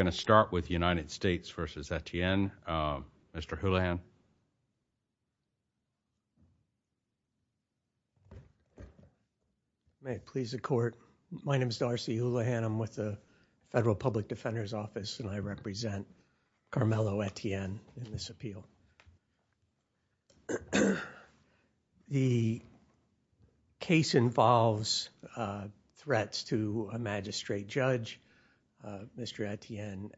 I'm going to start with United States v. Etienne. Mr. Houlihan. May it please the Court. My name is Darcy Houlihan. I'm with the Federal Public Defender's Office and I represent Carmelo Etienne in this appeal. The case involves threats to a magistrate judge. Mr. Etienne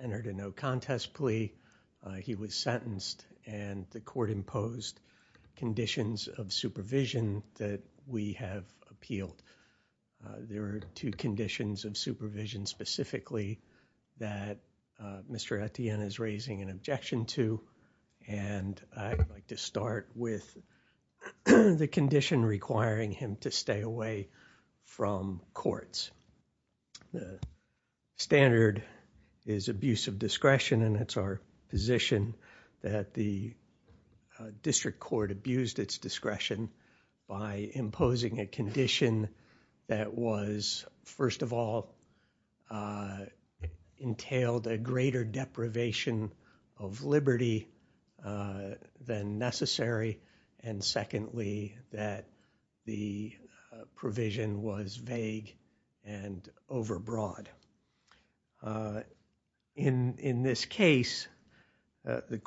entered a no-contest plea. He was sentenced and the Court imposed conditions of supervision that we have appealed. There I'd like to start with the condition requiring him to stay away from courts. The standard is abuse of discretion and it's our position that the District Court abused its discretion by imposing a condition that was, first of all, entailed a greater deprivation of liberty than necessary, and secondly, that the provision was vague and overbroad. In this case, the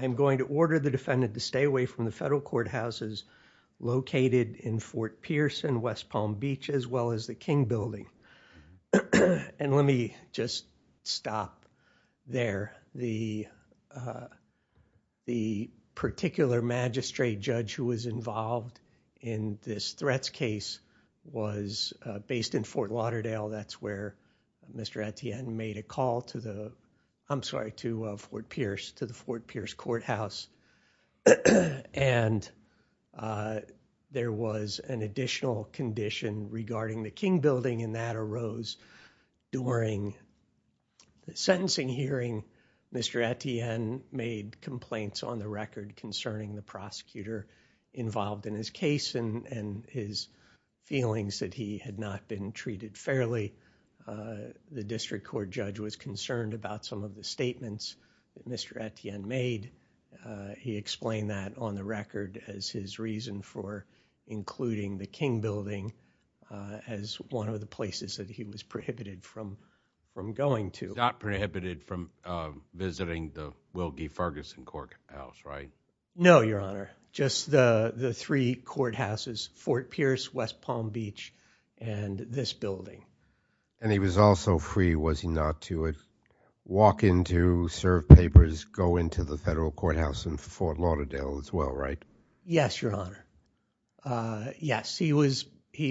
I'm going to order the defendant to stay away from the federal courthouses located in Fort Pierce and West Palm Beach, as well as the King Building. And let me just stop there. The particular magistrate judge who was involved in this threats case was based in Fort Lauderdale. That's where Mr. Etienne made a call to the, I'm sorry, to Fort Pierce, to the Fort Pierce courthouse. And there was an additional condition regarding the King Building and that arose during the sentencing hearing. Mr. Etienne made complaints on the record concerning the the District Court judge was concerned about some of the statements that Mr. Etienne made. He explained that on the record as his reason for including the King Building as one of the places that he was prohibited from going to. Not prohibited from visiting the Wilkie Ferguson courthouse, right? No, Your Honor. Just the three courthouses, Fort Pierce, West Palm Beach, and this building. And he was also free, was he not, to walk in to serve papers, go into the federal courthouse in Fort Lauderdale as well, right? Yes, Your Honor. Yes, he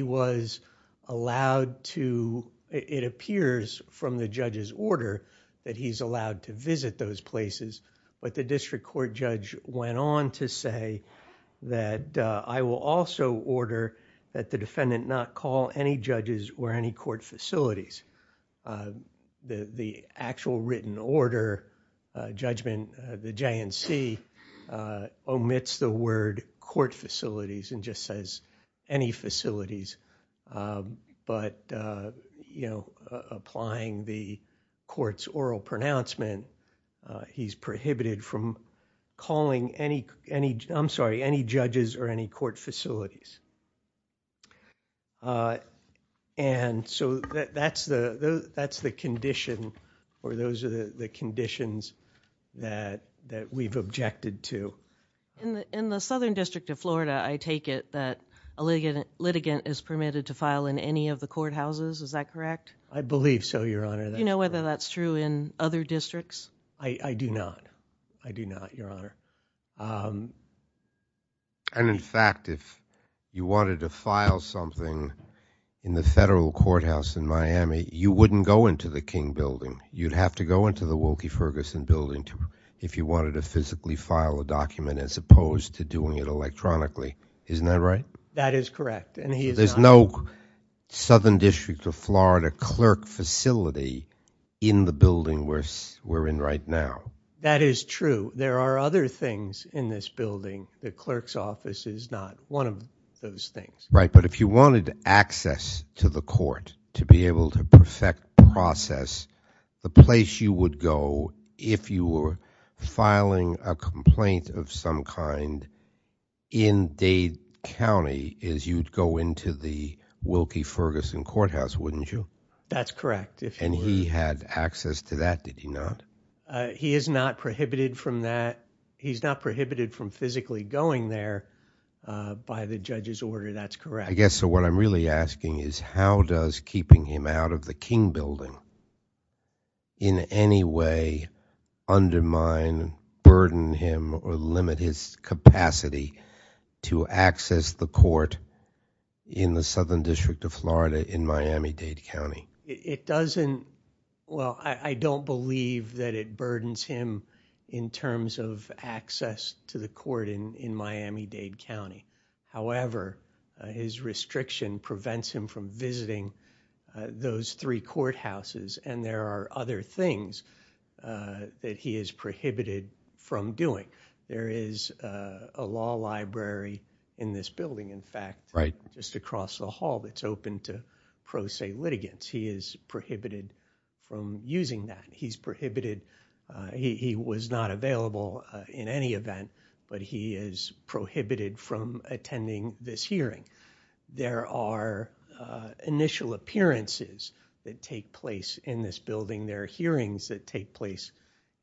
was allowed to, it appears from the judge's order, that he's allowed to visit those places. But the District Court judge went on to say that I will also order that the defendant not call any judges or any court facilities. The actual written order judgment, the JNC, omits the word court facilities and just says any facilities. But, you know, applying the court's oral pronouncement, he's prohibited from calling any, I'm sorry, any judges or any court facilities. And so that's the condition or those are the conditions that we've objected to. In the Southern District of Florida, I take it that a litigant is permitted to file in any of the courthouses, is that correct? I believe so, Your Honor. Do you know whether that's true in other districts? I do not, I do not, Your Honor. And in fact, if you wanted to file something in the federal courthouse in Miami, you wouldn't go into the King Building, you'd have to go into the Wilkie Ferguson Building if you wanted to physically file a document as opposed to doing it electronically, isn't that right? That is correct. There's no Southern District of Florida clerk facility in the building where we're in right now. That is true. There are other things in this building. The clerk's office is not one of those things. Right, but if you wanted access to the court to be able to perfect process, the place you would go if you were filing a complaint of some kind in Dade County is you'd go into the Wilkie Ferguson Courthouse, wouldn't you? That's correct. And he had access to that, did he not? He is not prohibited from that. He's not prohibited from physically going there by the judge's order, that's correct. I guess what I'm really asking is how does keeping him out of the King Building in any way undermine, burden him, or limit his capacity to access the court in the Southern District of Florida in Miami-Dade County? It doesn't, well, I don't believe that it burdens him in terms of access to the court in Miami-Dade County. However, his restriction prevents him from visiting those three courthouses and there are other things that he is prohibited from doing. There is a law library in this building, in fact, just across the hall that's open to pro se litigants. He is prohibited from using that. He's prohibited, he was not available in any event, but he is prohibited from attending this hearing. There are initial appearances that take place in this building. There are hearings that take place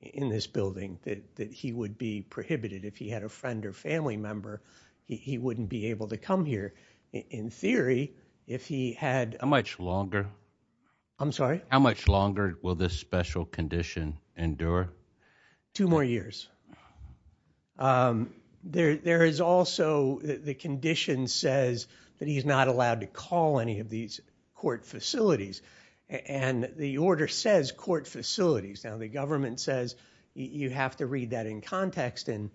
in this building that he would be prohibited. If he had a friend or family member, he wouldn't be able to come here. In theory, if he had... How much longer? I'm sorry? How much longer will this special condition endure? Two more years. There is also the condition says that he's not allowed to call any of these court facilities and the order says court facilities. Now, the government says you have to read that in context and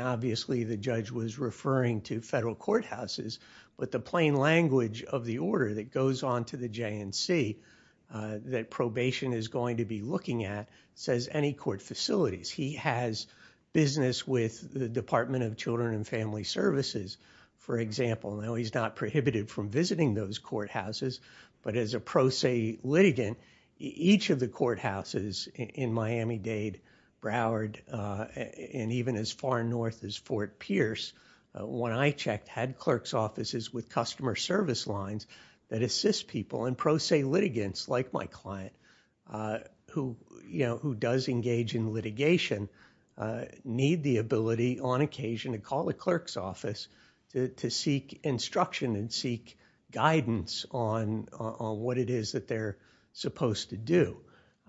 obviously the judge was referring to federal courthouses, but the plain language of the order that goes on to the JNC that probation is going to be looking at says any court facilities. He has business with the Department of Children and Family Services, for example. Now, he's not prohibited from visiting those courthouses, but as a pro se litigant, each of the courthouses in Miami-Dade, Broward, and even as far north as Fort Pierce, when I checked, had clerk's offices with customer service lines that assist people and pro se litigants, like my client, who does engage in litigation, need the ability on occasion to call the clerk's office to seek instruction and seek guidance on what it is that they're supposed to do.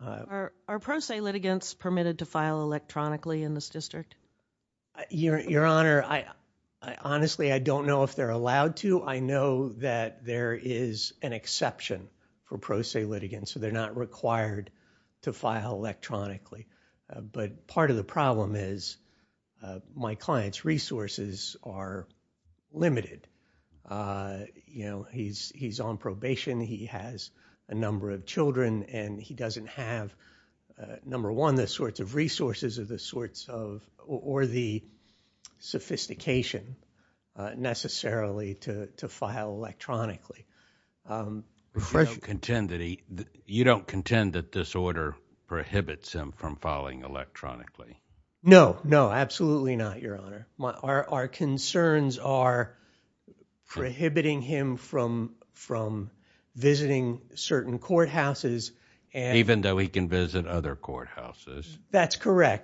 Are pro se litigants permitted to file electronically in this district? Your Honor, honestly, I don't know if they're allowed to. I know that there is an exception for pro se litigants, so they're not required to file electronically, but part of the problem is my client's resources are limited. He's on probation. He has a number of children and he doesn't have, number one, the sorts of resources or the sophistication necessarily to file electronically. You don't contend that this order prohibits him from filing electronically? No, no, absolutely not, Your Honor. Our concerns are prohibiting him from visiting certain courthouses. Even though he can visit other courthouses? That's confusing.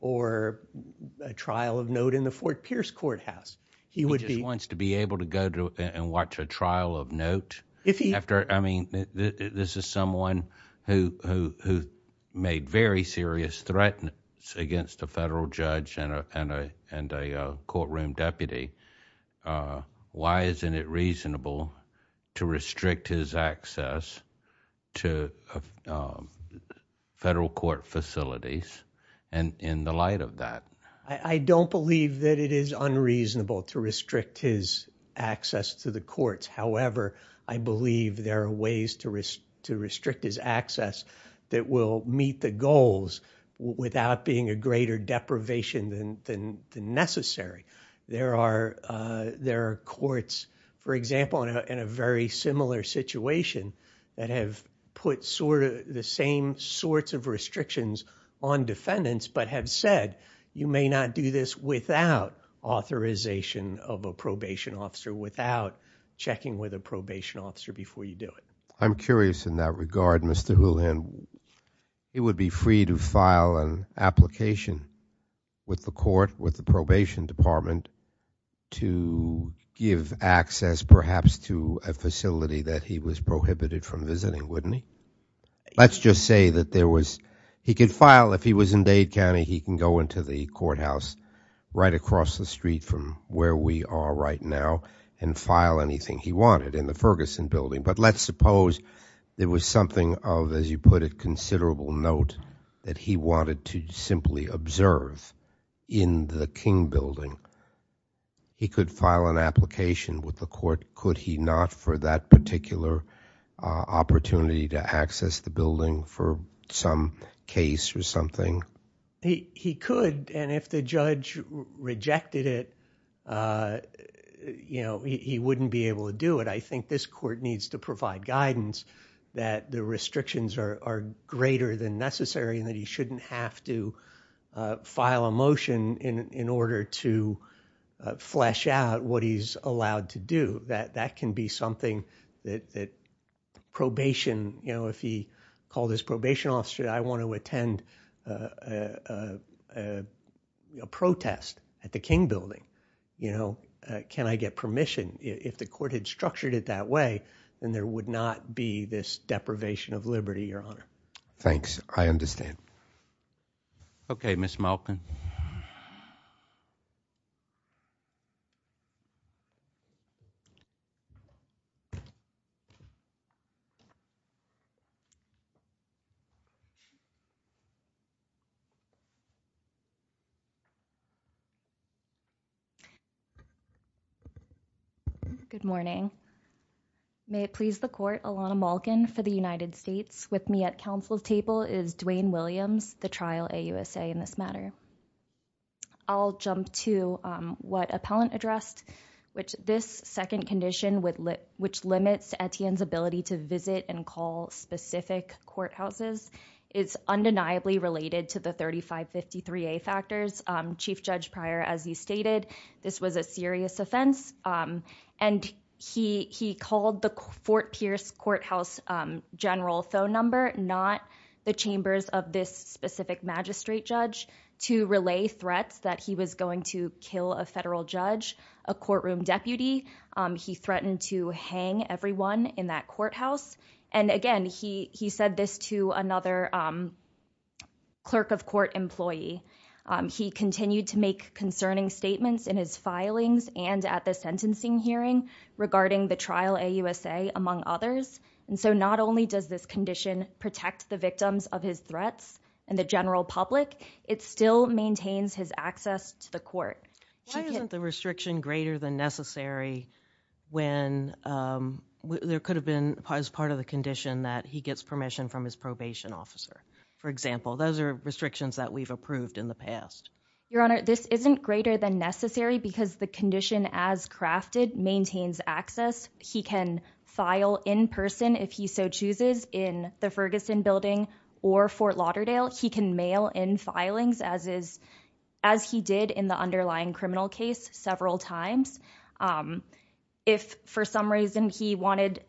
Or a trial of note in the Fort Pierce courthouse. He just wants to be able to go and watch a trial of note? This is someone who made very serious threats against a federal judge and a courtroom deputy. Why isn't it reasonable to restrict his access to federal court facilities in the light of that? I don't believe that it is unreasonable to restrict his access to the courts. However, I believe there are ways to restrict his access that will meet the goals without being a greater deprivation than necessary. There are courts, for example, in a very similar situation that have put the same sorts of restrictions on defendants but have said, you may not do this without authorization of a probation officer, without checking with a probation officer before you do it. I'm curious in that regard, Mr. Houlihan. He would be free to file an application with the court, with the probation department, to give access perhaps to a facility that he was prohibited from visiting, wouldn't he? Let's just say that there was, he could file, if he was in Dade County, he can go into the courthouse right across the street from where we are right now and file anything he wanted in the Ferguson building. But let's suppose there was something of, as you put it, considerable note that he wanted to simply observe in the King building. He could file an application with the court. Could he not for that particular opportunity to access the building for some case or something? He could and if the judge rejected it, you know, he wouldn't be able to do it. I think this court needs to provide guidance that the restrictions are greater than necessary and that he shouldn't have to file a motion in order to flesh out what he's allowed to do. That can be something that probation, you know, if he called his probation officer, I want to attend a protest at the King building, you know, can I get permission? If the court had structured it that way, then there would not be this deprivation of liberty, your honor. Thanks. I understand. Okay, Miss Malkin. Good morning. May it please the court, Alana Malkin for the United States. With me at I'll jump to what appellant addressed, which this second condition which limits Etienne's ability to visit and call specific courthouses is undeniably related to the 3553A factors. Chief Judge Pryor, as you stated, this was a serious offense and he called the Fort Pierce courthouse general phone number, not the chambers of this specific magistrate judge to relay threats that he was going to kill a federal judge, a courtroom deputy. He threatened to hang everyone in that courthouse. And again, he, he said this to another, um, clerk of court employee. Um, he continued to make concerning statements in his filings and at the sentencing hearing regarding the trial, a USA among others. And so not only does this condition protect the victims of his threats and the general public, it's still maintains his access to the court. Why isn't the restriction greater than necessary when, um, there could have been as part of the condition that he gets permission from his probation officer. For example, those are restrictions that we've approved in the past. Your honor, this isn't greater than necessary because the condition as crafted maintains access. He can file in person if he so chooses in the Ferguson building or Fort Lauderdale, he can mail in filings as is, as he did in the underlying criminal case several times. Um, if for some reason he wanted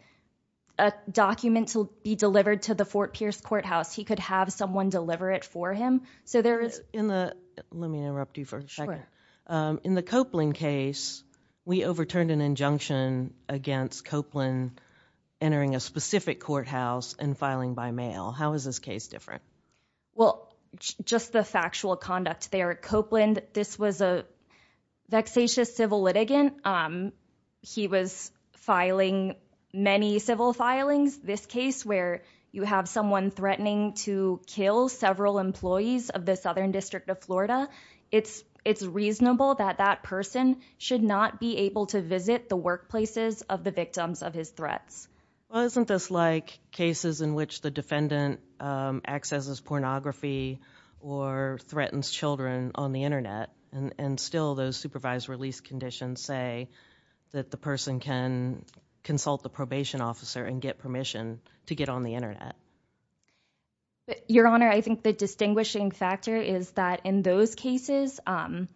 a document to be delivered to the Fort Pierce courthouse, he could have someone deliver it for him. So there is in the, let me interrupt you for a second. Um, in the Copeland case, we overturned an injunction against Copeland entering a specific courthouse and filing by mail. How is this case different? Well, just the factual conduct. They are Copeland. This was a vexatious civil litigant. Um, he was filing many civil filings. This case where you have someone threatening to kill several employees of the Southern District of Florida. It's, it's reasonable that that person should not be able to visit the workplaces of the victims of his threats. Well, isn't this like cases in which the defendant, um, accesses pornography or threatens Children on the internet and still those supervised release conditions say that the person can consult the probation officer and get permission to get on the internet. Your honor, I think the distinguishing factor is that in those cases, um,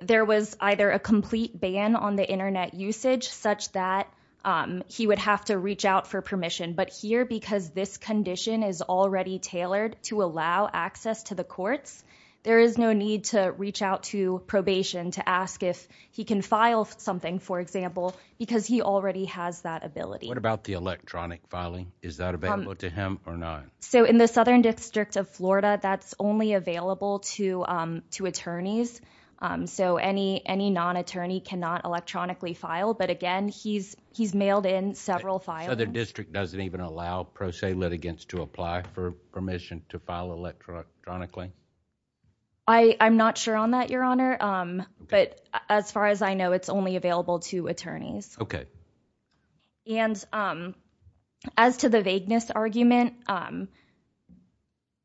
there was either a complete ban on the internet usage such that, um, he would have to reach out for permission. But here, because this condition is already tailored to allow access to the courts, there is no need to reach out to probation to ask if he can file something, for example, because he already has that ability. What about the electronic filing? Is that available to him or not? So in the Southern District of Florida, that's only available to, um, to attorneys. Um, so any, any non attorney cannot electronically file. But again, he's, he's mailed in several files. The district doesn't even allow pro se litigants to apply for permission to file electronically. I, I'm not sure on that, your honor. Um, but as far as I know, it's only available to attorneys. Okay. And, um, as to the vagueness argument, um,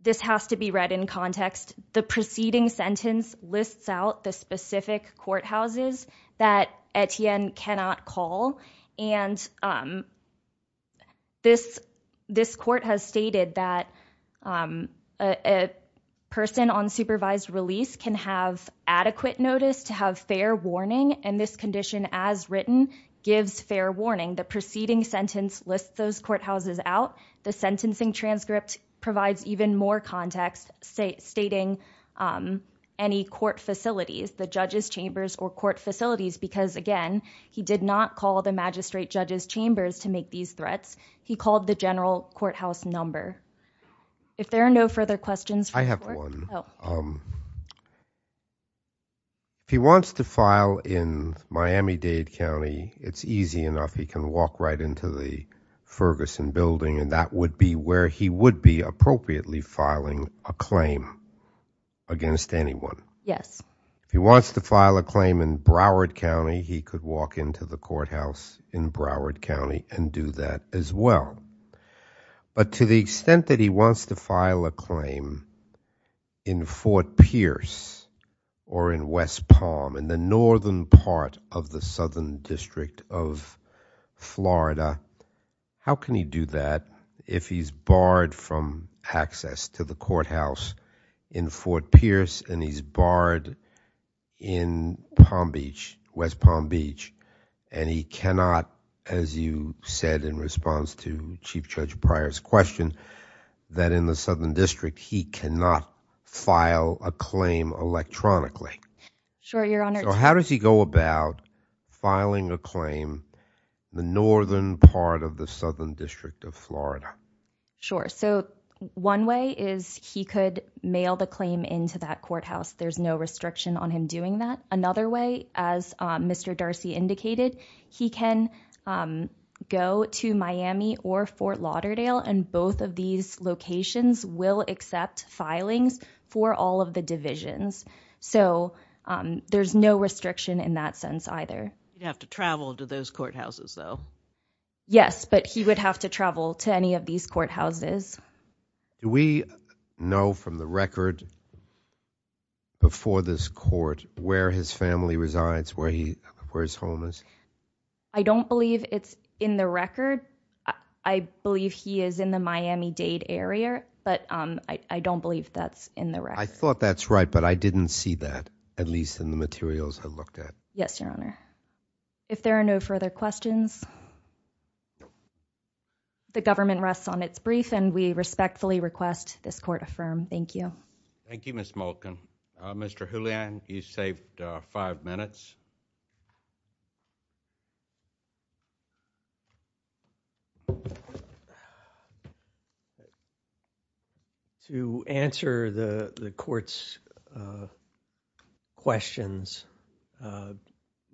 this has to be read in context. The preceding sentence lists out the specific courthouses that Etienne cannot call. And, um, this, this court has stated that, um, a person on supervised release can have adequate notice to have fair warning. And this condition as written gives fair warning. The preceding sentence lists those courthouses out. The sentencing transcript provides even more context, say stating, um, any court facilities, the judges chambers or court facilities, because again, he did not call the magistrate judges chambers to make these threats. He called the general courthouse number. If there are no further questions, I have one. Um, he wants to file in Miami Dade County. It's easy enough. He can walk right into the Ferguson building and that would be where he would be appropriately filing a claim against anyone. Yes. He wants to file a claim in Broward County. He could walk into the courthouse in Broward County and do that as well. But to the extent that he wants to file a claim in Fort Pierce or in West Palm in the Northern part of the Southern district of Florida, how can he do that if he's barred from access to the courthouse in Fort Pierce and he's barred in Palm Beach, West Palm Beach, and he cannot, as you said in response to Chief Judge Pryor's question, that in the Southern district, he cannot file a claim electronically. Sure. Your Honor, how does he go about filing a claim? The Northern part of the Southern district of Florida? Sure. So one way is he could mail the claim into that courthouse. There's no restriction on him doing that. Another way, as Mr. Darcy indicated, he can go to Miami or Fort Lauderdale and both of these locations will accept filings for all of the divisions. So there's no restriction in that sense either. He'd have to travel to those courthouses though? Yes, but he would have to travel to any of these courthouses. Do we know from the record before this court where his family resides, where his home is? I don't believe it's in the record. I believe he is in the Miami-Dade area, but I don't believe that's in the record. I thought that's right, but I didn't see that, at least in the materials I looked at. Yes, Your Honor. If there are no further questions, the government rests on its brief and we respectfully request this court affirm. Thank you. Thank you, Ms. Malkin. Mr. Julian, you saved five minutes. To answer the court's questions,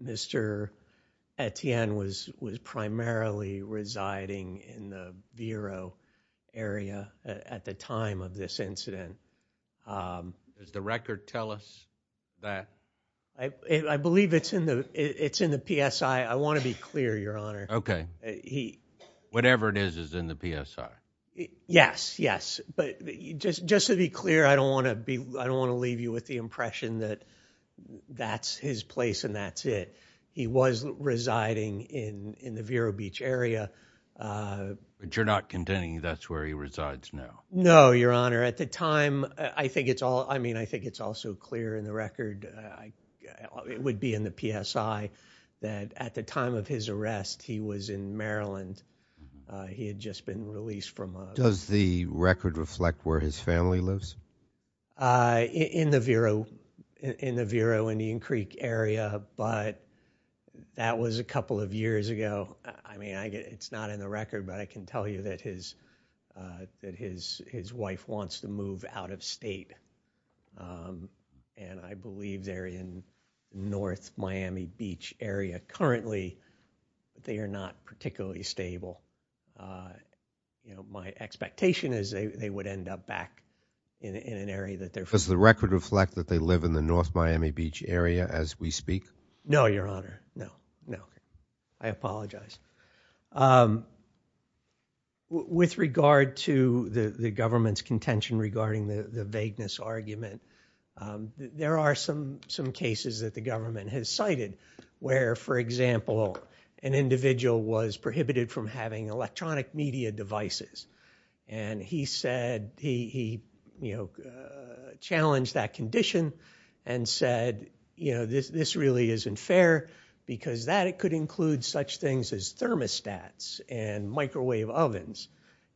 Mr. Etienne was primarily residing in the Vero area at the time of this incident. Does the record tell us that? I believe it's in the PSI. I want to be clear, Your Honor. Okay. Whatever it is is in the PSI. Yes, yes, but just to be clear, I don't want to leave you with the impression that that's his place and that's it. He was residing in the Vero Beach area. But you're not contending that's where he was? No, Your Honor. At the time, I think it's also clear in the record, it would be in the PSI, that at the time of his arrest, he was in Maryland. He had just been released from... Does the record reflect where his family lives? In the Vero Indian Creek area, but that was a couple of years ago. It's not in the record, but I can tell you that his wife wants to move out of state. I believe they're in North Miami Beach area currently. They are not particularly stable. My expectation is they would end up back in an area that they're... Does the record reflect that they live in the North Miami Beach area as we speak? No, Your Honor. No, no. I apologize. With regard to the government's contention regarding the vagueness argument, there are some cases that the government has cited where, for example, an individual was prohibited from having electronic media devices. He said he challenged that condition and said, this really isn't fair because that could include such things as thermostats and microwave ovens.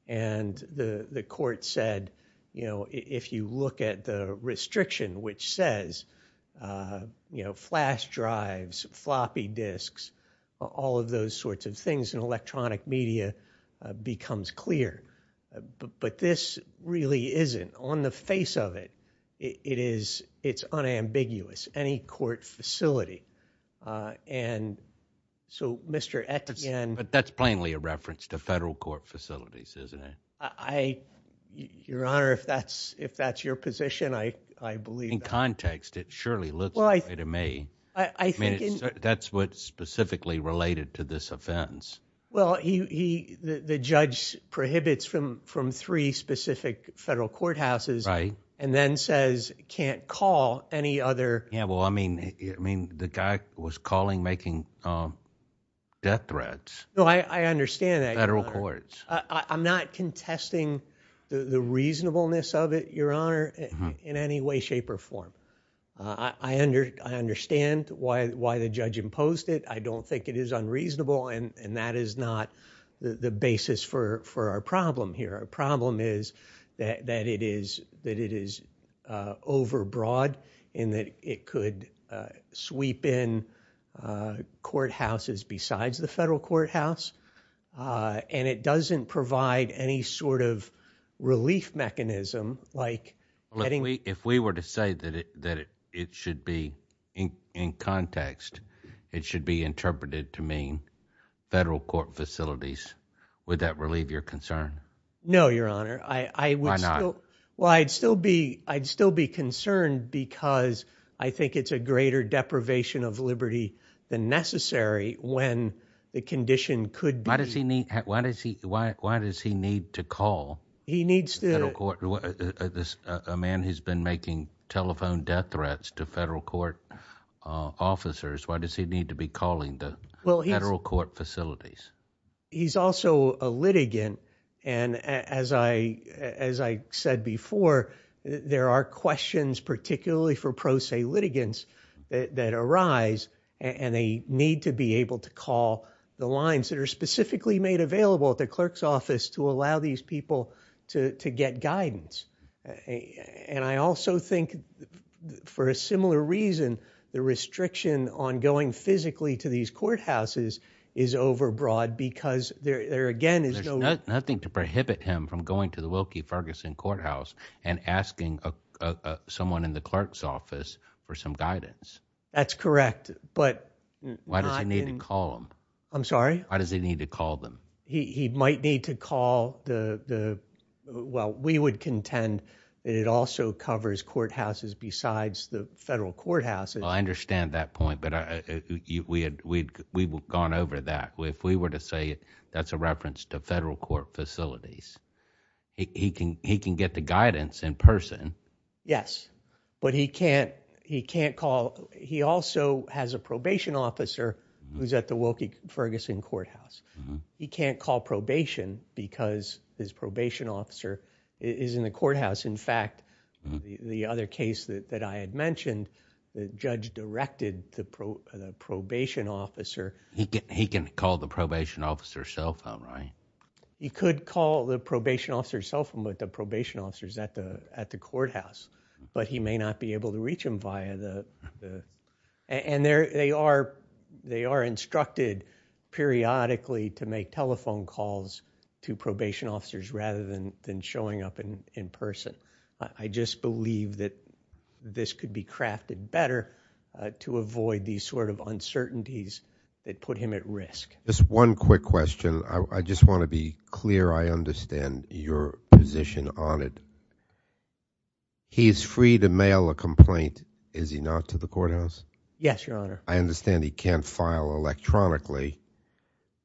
The court said if you look at the restriction which says flash drives, floppy disks, all of those sorts of things in electronic media becomes clear, but this really isn't. On the face of it, it's unambiguous, any court facility. Mr. Ettingen... That's plainly a reference to federal court facilities, isn't it? Your Honor, if that's your position, I believe... In context, it surely looks that way to me. That's what specifically related to this offense. Well, the judge prohibits from three specific federal courthouses and then says can't call any other... Yeah, well, I mean, the guy was calling making death threats. No, I understand that, Your Honor. Federal courts. I'm not contesting the reasonableness of it, Your Honor, in any way, shape, or form. I understand why the judge imposed it. I don't think it is unreasonable, and that is not the basis for our problem here. Our problem is that it is overbroad in that it could sweep in courthouses besides the federal courthouse, and it doesn't provide any sort of relief mechanism like getting... In context, it should be interpreted to mean federal court facilities. Would that relieve your concern? No, Your Honor. Why not? Well, I'd still be concerned because I think it's a greater deprivation of liberty than necessary when the condition could be... Why does he need to call a man who's been making telephone death threats to federal court officers? Why does he need to be calling the federal court facilities? He's also a litigant, and as I said before, there are questions particularly for pro se litigants that arise, and they need to be able to call the lines that are specifically made available at the clerk's office to allow these people to get guidance. I also think for a similar reason, the restriction on going physically to these courthouses is overbroad because there, again, is no... There's nothing to prohibit him from going to the Wilkie Ferguson courthouse and asking someone in the clerk's office for some guidance. That's correct, but... Why does he need to call them? I'm sorry? Why does he need to call them? He might need to call the... Well, we would contend that it also covers courthouses besides the federal courthouses. Well, I understand that point, but we've gone over that. If we were to say that's a reference to federal court facilities, he can get the guidance in person. Yes, but he can't call... He also has a probation officer who's at the Wilkie Ferguson courthouse. He can't call probation because his probation officer is in the courthouse. In fact, the other case that I had mentioned, the judge directed the probation officer... He can call the probation officer's cell phone, right? He could call the probation officer's cell phone, but the probation officer's at the courthouse, but he may not be able to reach him via the... They are instructed periodically to make telephone calls to probation officers rather than showing up in person. I just believe that this could be crafted better to avoid these sort of uncertainties that put him at risk. Just one quick question. I just want to be clear I understand your position on it. He is free to mail a complaint, is he not, to the courthouse? Yes, Your Honor. I understand he can't file electronically,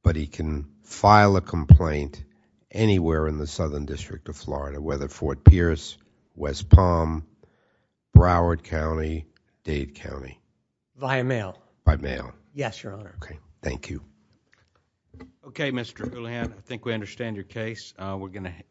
but he can file a complaint anywhere in the Southern District of Florida, whether Fort Pierce, West Palm, Broward County, Dade County. Via mail? By mail. Yes, Your Honor. Okay, thank you. Okay, Mr. Houlihan, I think we understand your case. We're going to...